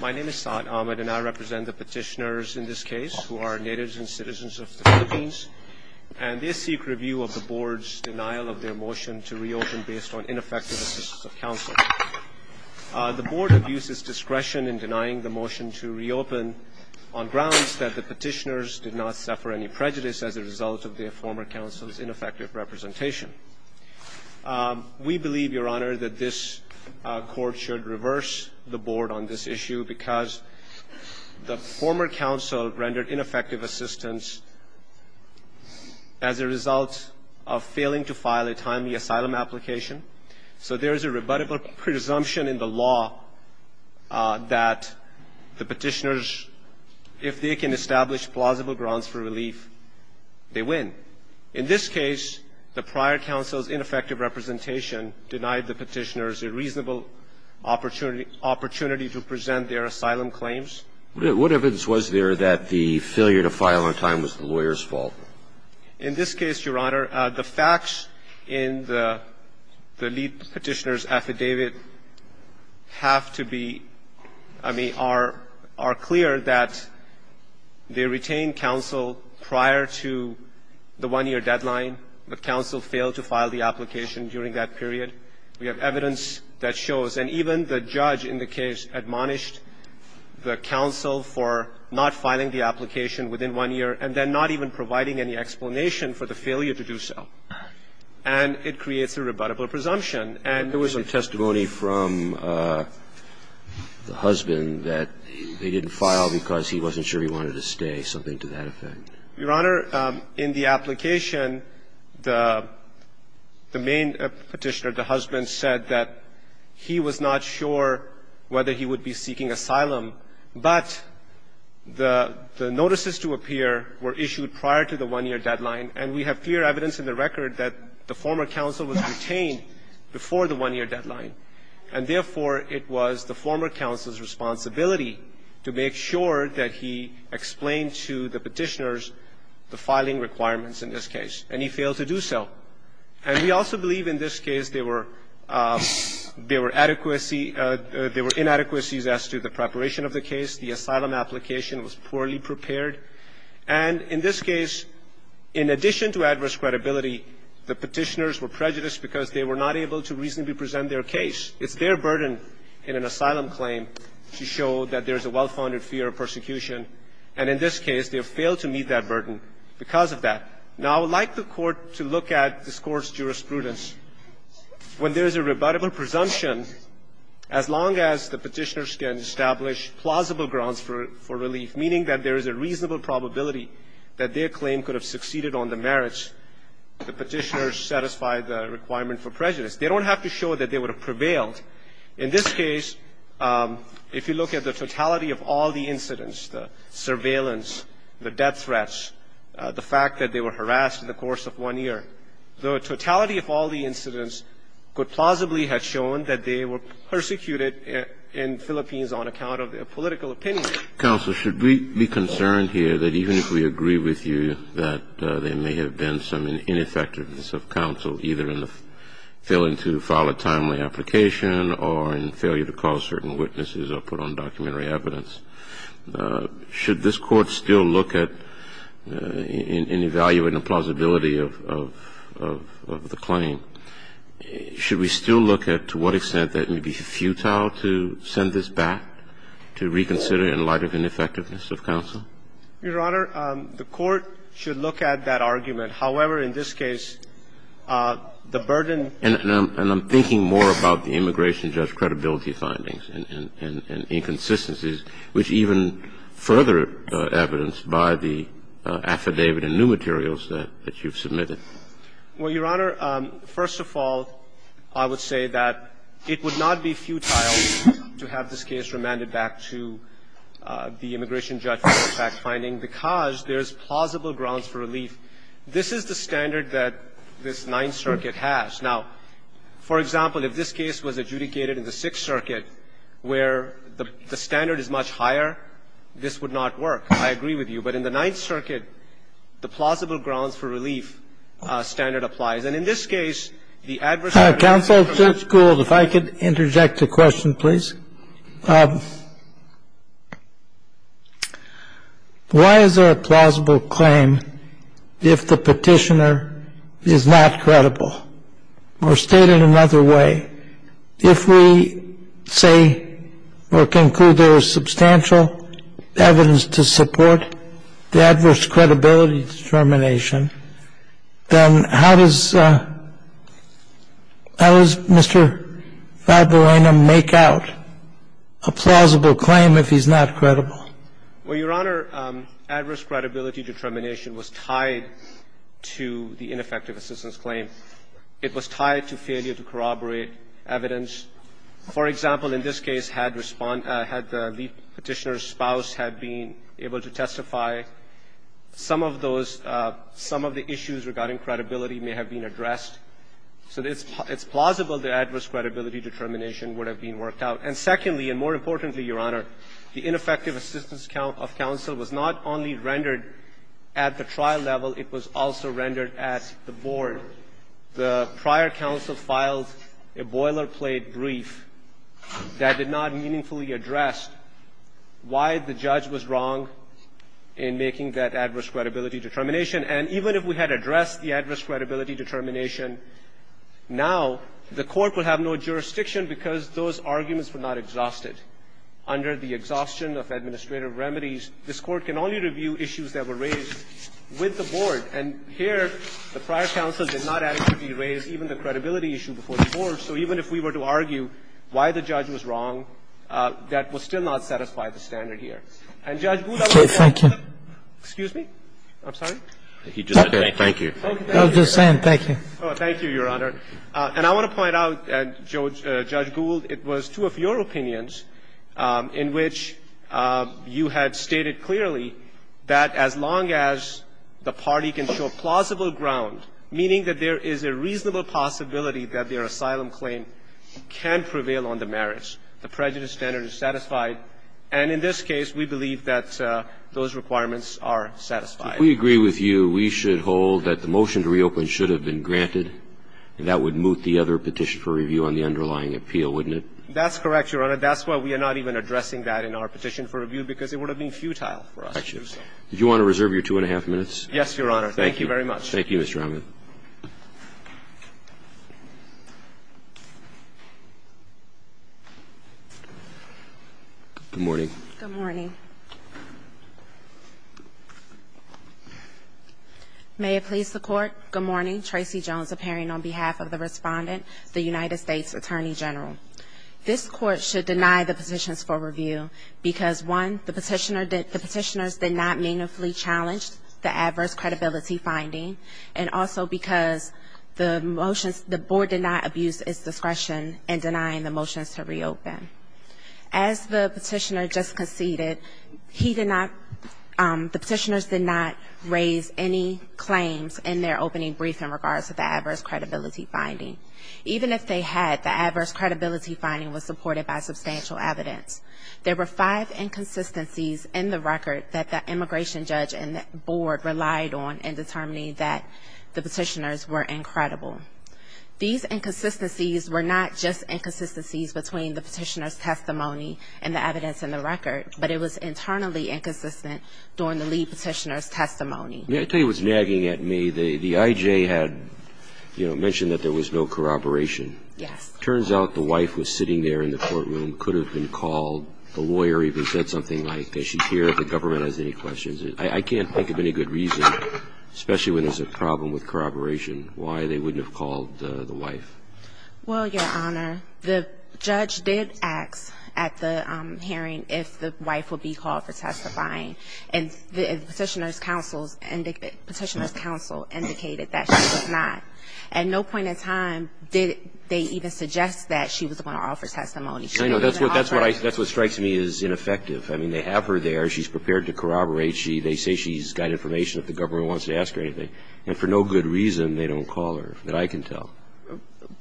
My name is Saad Ahmed, and I represent the petitioners in this case who are natives and citizens of the Philippines. And they seek review of the board's denial of their motion to reopen based on ineffective assistance of counsel. The board abuses discretion in denying the motion to reopen on grounds that the petitioners did not suffer any prejudice as a result of their former counsel's ineffective representation. We believe, Your Honor, that this court should reverse the board on this issue because the former counsel rendered ineffective assistance as a result of failing to file a timely asylum application. So there is a rebuttable presumption in the law that the petitioners, if they can establish plausible grounds for relief, they win. In this case, the prior counsel's ineffective representation denied the petitioners a reasonable opportunity to present their asylum claims. What evidence was there that the failure to file on time was the lawyer's fault? In this case, Your Honor, the facts in the lead petitioner's affidavit have to be, I mean, are clear that they retained counsel prior to the one-year deadline. The counsel failed to file the application during that period. We have evidence that shows, and even the judge in the case admonished the counsel for not filing the application within one year and then not even providing any explanation for the failure to do so. And it creates a rebuttable presumption. And there was a testimony from the husband that they didn't file because he wasn't sure he wanted to stay, something to that effect. Your Honor, in the application, the main petitioner, the husband, said that he was not sure whether he would be seeking asylum, but the notices to appear were issued prior to the one-year deadline, and we have clear evidence in the record that the former counsel was retained before the one-year deadline. And therefore, it was the former counsel's responsibility to make sure that he explained to the petitioners the filing requirements in this case, and he failed to do so. And we also believe in this case there were inadequacies as to the preparation of the case, the asylum application was poorly prepared, and in this case, in addition to adverse credibility, the petitioners were prejudiced because they were not able to reasonably present their case. It's their burden in an asylum claim to show that there's a well-founded fear of persecution. And in this case, they have failed to meet that burden because of that. Now, I would like the Court to look at this Court's jurisprudence. When there is a rebuttable presumption, as long as the petitioners can establish plausible grounds for relief, meaning that there is a reasonable probability that their claim could have succeeded on the merits, the petitioners satisfy the requirement for prejudice. They don't have to show that they would have prevailed. In this case, if you look at the totality of all the incidents, the surveillance, the death threats, the fact that they were harassed in the course of one year, the totality of all the incidents could plausibly have shown that they were persecuted in the Philippines on account of their political opinion. Kennedy. Should we be concerned here that even if we agree with you that there may have been some ineffectiveness of counsel, either in the failing to file a timely application or in failure to call certain witnesses or put on documentary evidence, should this Court still look at and evaluate the plausibility of the claim? Should we still look at to what extent that it would be futile to send this back to reconsider in light of ineffectiveness of counsel? Your Honor, the Court should look at that argument. However, in this case, the burden of the case is that it would be futile to have this case remanded back to the immigration judge for fact-finding, because there is plausible grounds for relief. for relief. This is the standard that this Ninth Circuit has. Now, for example, if this case was adjudicated in the Sixth Circuit, where the standard is much higher, this would not work. I agree with you. But in the Ninth Circuit, the plausible grounds for relief standard applies. And in this case, the adverse effect of that is not the case. Kennedy, counsel, Judge Gould, if I could interject a question, please. Why is there a plausible claim if the petitioner is not credible, or stated another way? If we say or conclude there is substantial evidence to support the adverse credibility determination, then how does Mr. Valderena make out a plausible claim if he's not credible? Well, Your Honor, adverse credibility determination was tied to the ineffective assistance claim. It was tied to failure to corroborate evidence. For example, in this case, had the petitioner's spouse had been able to testify, some of those – some of the issues regarding credibility may have been addressed. So it's plausible the adverse credibility determination would have been worked out. And secondly, and more importantly, Your Honor, the ineffective assistance of counsel was not only rendered at the trial level, it was also rendered at the board. The prior counsel filed a boilerplate brief that did not meaningfully address why the judge was wrong in making that adverse credibility determination. And even if we had addressed the adverse credibility determination now, the Court would have no jurisdiction because those arguments were not exhausted. Under the exhaustion of administrative remedies, this Court can only review issues that were raised with the board. And here, the prior counsel did not actually raise even the credibility issue before the board. So even if we were to argue why the judge was wrong, that would still not satisfy the standard here. And Judge Gould, I want to point out. Excuse me? I'm sorry? He just said thank you. I was just saying thank you. Thank you, Your Honor. And I want to point out, Judge Gould, it was two of your opinions in which you had stated clearly that as long as the party can show plausible ground, meaning that there is a reasonable possibility that their asylum claim can prevail on the merits, the prejudice standard is satisfied, and in this case, we believe that those requirements are satisfied. If we agree with you, we should hold that the motion to reopen should have been granted, and that would moot the other petition for review on the underlying appeal, wouldn't it? That's correct, Your Honor. That's why we are not even addressing that in our petition for review, because it would have been futile for us to do so. Did you want to reserve your two and a half minutes? Yes, Your Honor. Thank you very much. Thank you, Mr. Rahman. Good morning. Good morning. May it please the Court, good morning. Tracy Jones appearing on behalf of the Respondent, the United States Attorney General. This Court should deny the petitions for review because, one, the petitioners did not meaningfully challenge the adverse credibility finding, and also because the motions, the Board did not abuse its discretion in denying the motions to reopen. As the petitioner just conceded, he did not, the petitioners did not raise any claims in their opening brief in regards to the adverse credibility finding. Even if they had, the adverse credibility finding was supported by substantial evidence. There were five inconsistencies in the record that the immigration judge and the Board relied on in determining that the petitioners were incredible. These inconsistencies were not just inconsistencies between the petitioner's testimony and the evidence in the record, but it was internally inconsistent during the lead petitioner's testimony. May I tell you what's nagging at me? The IJ had, you know, mentioned that there was no corroboration. Yes. Turns out the wife was sitting there in the courtroom, could have been called, the lawyer even said something like, they should hear if the government has any questions. I can't think of any good reason, especially when there's a problem with corroboration, why they wouldn't have called the wife. Well, Your Honor, the judge did ask at the hearing if the wife would be called for testifying, and the petitioner's counsel indicated that she was not. At no point in time did they even suggest that she was going to offer testimony. That's what strikes me as ineffective. I mean, they have her there. She's prepared to corroborate. They say she's got information if the government wants to ask her anything. And for no good reason, they don't call her, that I can tell.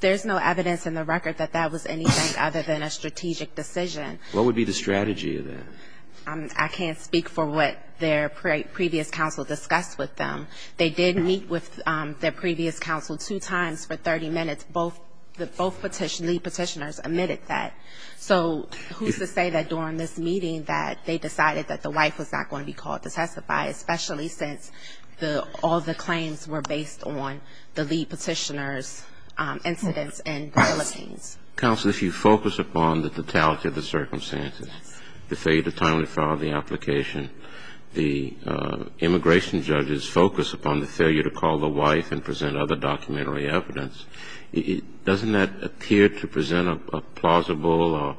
There's no evidence in the record that that was anything other than a strategic decision. What would be the strategy of that? I can't speak for what their previous counsel discussed with them. They did meet with their previous counsel two times for 30 minutes. Both lead petitioners admitted that. So who's to say that during this meeting that they decided that the wife was not going to be called to testify, especially since all the claims were based on the lead petitioner's incidents and violations? Counsel, if you focus upon the totality of the circumstances, the failure to timely file the application, the immigration judge's focus upon the failure to call the wife and present other documentary evidence, doesn't that appear to present a plausible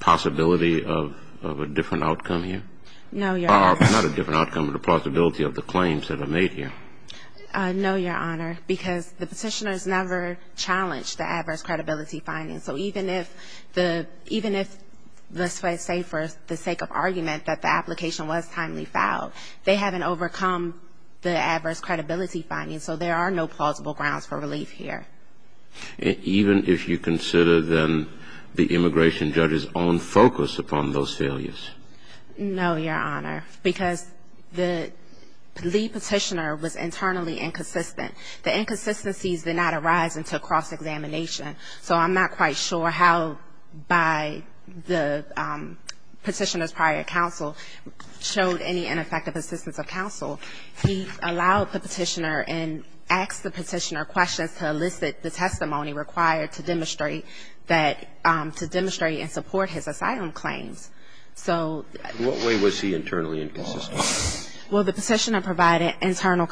possibility of a different outcome here? No, Your Honor. Not a different outcome, but a plausibility of the claims that are made here. No, Your Honor, because the petitioners never challenged the adverse credibility findings. So even if, let's say for the sake of argument, that the application was timely filed, they haven't overcome the adverse credibility findings. So there are no plausible grounds for relief here. Even if you consider, then, the immigration judge's own focus upon those failures? No, Your Honor, because the lead petitioner was internally inconsistent. The inconsistencies did not arise until cross-examination. So I'm not quite sure how by the petitioner's prior counsel showed any ineffective assistance of counsel. He allowed the petitioner and asked the petitioner questions to elicit the testimony required to demonstrate that to demonstrate and support his asylum claims. So the What way was he internally inconsistent? Well, the petitioner provided internal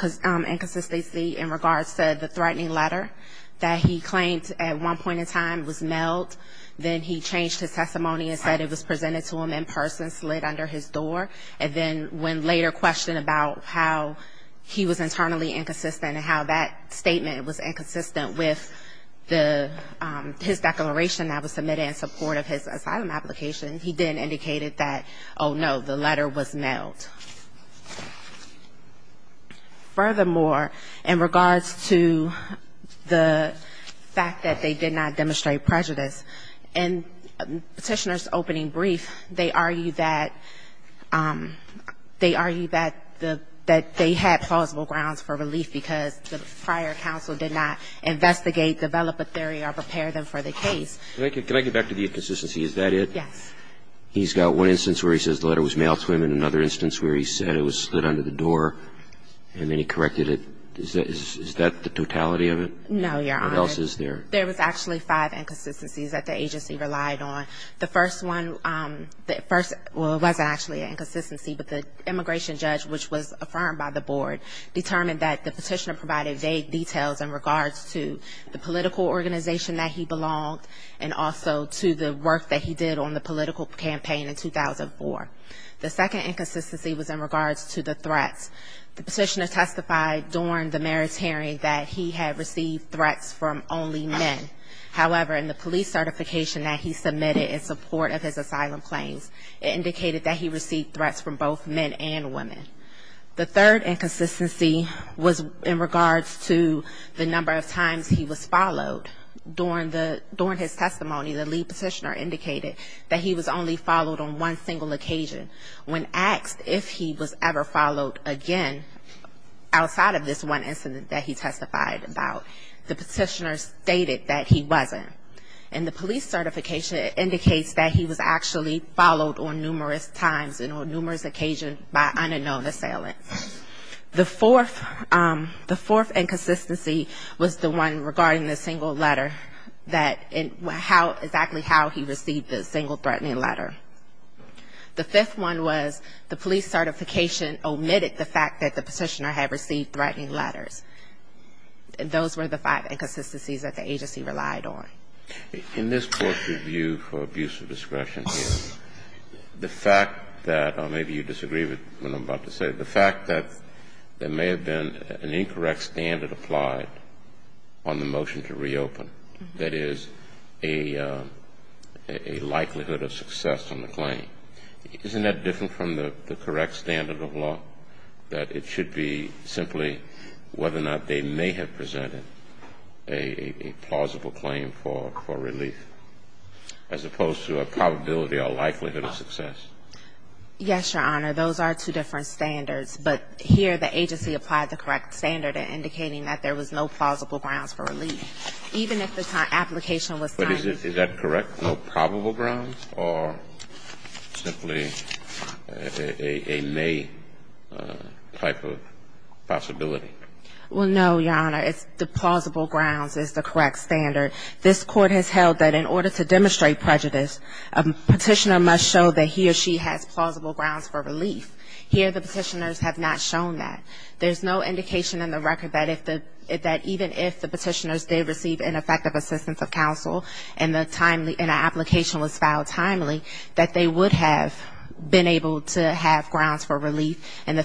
inconsistency in regards to the threatening letter that he claimed at one point in time was mailed. Then he changed his testimony and said it was presented to him in person, slid under his door. And then when later questioned about how he was internally inconsistent and how that statement was inconsistent with his declaration that was submitted in support of his asylum application, he then indicated that, oh, no, the letter was mailed. Furthermore, in regards to the fact that they did not demonstrate prejudice, in the petitioner's opening brief, they argued that they argued that they had plausible grounds for relief because the prior counsel did not investigate, develop a theory or prepare them for the case. Can I get back to the inconsistency? Is that it? Yes. He's got one instance where he says the letter was mailed to him and another instance where he said it was slid under the door and then he corrected it. Is that the totality of it? No, Your Honor. What else is there? There was actually five inconsistencies that the agency relied on. The first one, well, it wasn't actually an inconsistency, but the immigration judge, which was affirmed by the board, determined that the petitioner provided vague details in regards to the political organization that he belonged and also to the work that he did on the political campaign in 2004. The second inconsistency was in regards to the threats. The petitioner testified during the mayor's hearing that he had received threats from only men. However, in the police certification that he submitted in support of his asylum claims, it indicated that he received threats from both men and women. The third inconsistency was in regards to the number of times he was followed. During his testimony, the lead petitioner indicated that he was only followed on one single occasion. When asked if he was ever followed again outside of this one incident that he testified about, the petitioner stated that he wasn't. And the police certification indicates that he was actually followed on numerous times and on numerous occasions by unknown assailants. The fourth inconsistency was the one regarding the single letter, that exactly how he received the single threatening letter. The fifth one was the police certification omitted the fact that the petitioner had received threatening letters. Those were the five inconsistencies that the agency relied on. In this court's review for abuse of discretion here, the fact that, or maybe you disagree with what I'm about to say, the fact that there may have been an incorrect standard applied on the motion to reopen, that is a likelihood of success on the claim. Isn't that different from the correct standard of law, that it should be simply whether or not they may have presented a plausible claim for relief, as opposed to a probability or likelihood of success? Yes, Your Honor. Those are two different standards. But here the agency applied the correct standard in indicating that there was no plausible grounds for relief, even if the application was timed. But is that correct? No probable grounds or simply a may type of possibility? Well, no, Your Honor. It's the plausible grounds is the correct standard. This Court has held that in order to demonstrate prejudice, a petitioner must show that he or she has plausible grounds for relief. Here the petitioners have not shown that. There's no indication in the record that if the, that even if the petitioners did receive ineffective assistance of counsel and the timely, and an application was filed timely, that they would have been able to have grounds for relief in the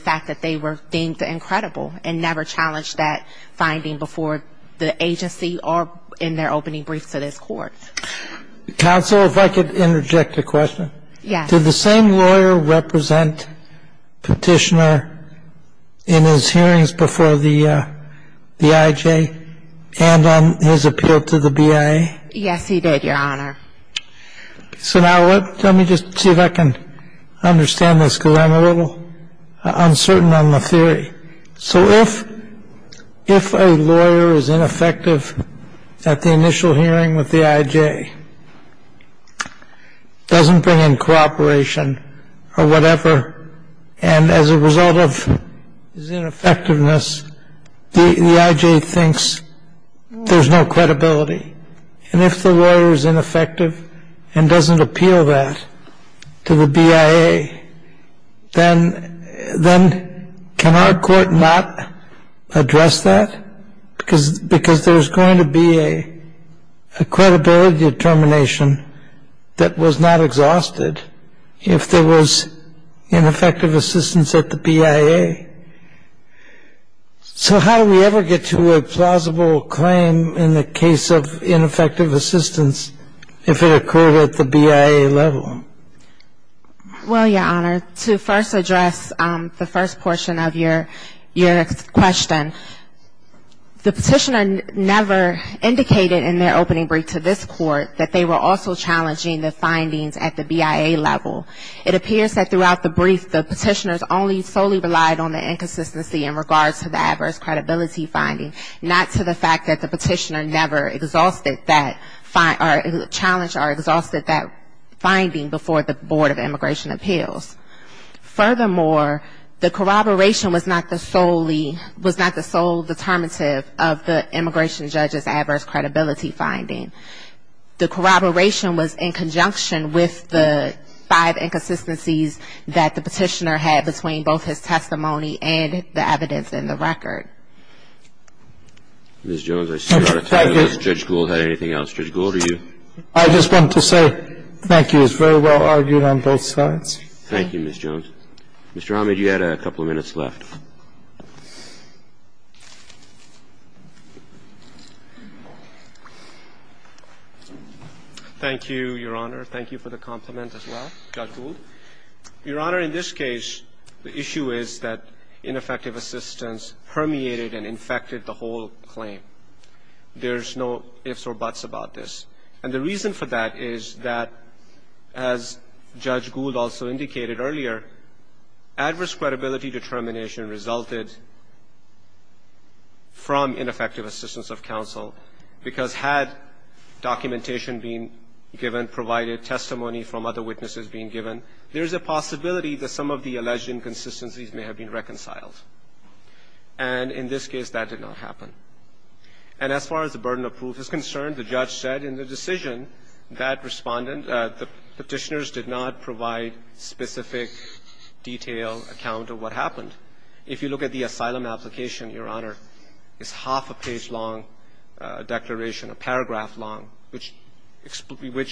case, or challenge that finding before the agency or in their opening brief to this Court. Counsel, if I could interject a question. Yes. Did the same lawyer represent petitioner in his hearings before the IJ and on his appeal to the BIA? Yes, he did, Your Honor. So now let, let me just see if I can understand this, because I'm a little uncertain on the theory. So if, if a lawyer is ineffective at the initial hearing with the IJ, doesn't bring in cooperation or whatever, and as a result of his ineffectiveness, the IJ thinks there's no credibility. And if the lawyer is ineffective and doesn't appeal that to the BIA, then, then can our Court not address that? Because, because there's going to be a, a credibility determination that was not exhausted if there was ineffective assistance at the BIA. So how do we ever get to a plausible claim in the case of ineffective assistance if it occurred at the BIA level? Well, Your Honor, to first address the first portion of your, your question. The petitioner never indicated in their opening brief to this Court that they were also challenging the findings at the BIA level. It appears that throughout the brief, the petitioners only solely relied on the inconsistency in regards to the adverse credibility finding, not to the fact that the petitioner never exhausted that, or challenged or exhausted that finding before the Board of Immigration Appeals. Furthermore, the corroboration was not the solely, was not the sole determinative of the immigration judge's adverse credibility finding. The corroboration was in conjunction with the five inconsistencies that the petitioner had between both his testimony and the evidence in the record. Ms. Jones, I see you're out of time unless Judge Gould had anything else. Judge Gould, are you? I just want to say thank you. It's very well argued on both sides. Thank you, Ms. Jones. Mr. Ahmed, you had a couple of minutes left. Thank you, Your Honor. Thank you for the compliment as well, Judge Gould. Your Honor, in this case, the issue is that ineffective assistance permeated and infected the whole claim. There's no ifs or buts about this. And the reason for that is that, as Judge Gould also indicated earlier, adverse credibility determination resulted from ineffective assistance of counsel because had documentation been given, provided testimony from other witnesses being given, there's a possibility that some of the alleged inconsistencies may have been reconciled. And in this case, that did not happen. And as far as the burden of proof is concerned, the judge said in the decision that Respondent, the Petitioners did not provide specific detailed account of what happened. If you look at the asylum application, Your Honor, it's half a page long declaration, a paragraph long, which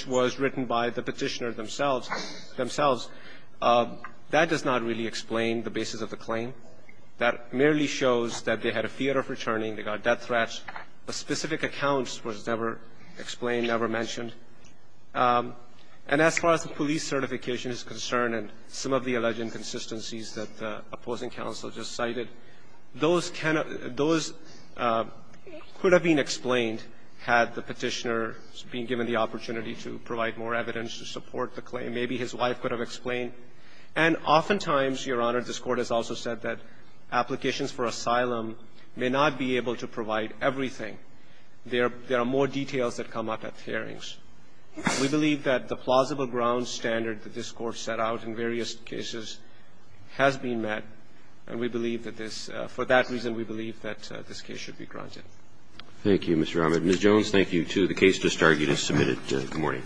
was written by the Petitioner themselves. That does not really explain the basis of the claim. That merely shows that they had a fear of returning. They got death threats. The specific accounts was never explained, never mentioned. And as far as the police certification is concerned and some of the alleged inconsistencies that the opposing counsel just cited, those could have been explained had the Petitioner been given the opportunity to provide more evidence to support the claim. Maybe his wife could have explained. And oftentimes, Your Honor, this Court has also said that applications for asylum may not be able to provide everything. There are more details that come up at hearings. We believe that the plausible ground standard that this Court set out in various cases has been met. And we believe that this – for that reason, we believe that this case should be granted. Roberts. Thank you, Mr. Ahmed. Ms. Jones, thank you, too. The case distarted is submitted. Good morning.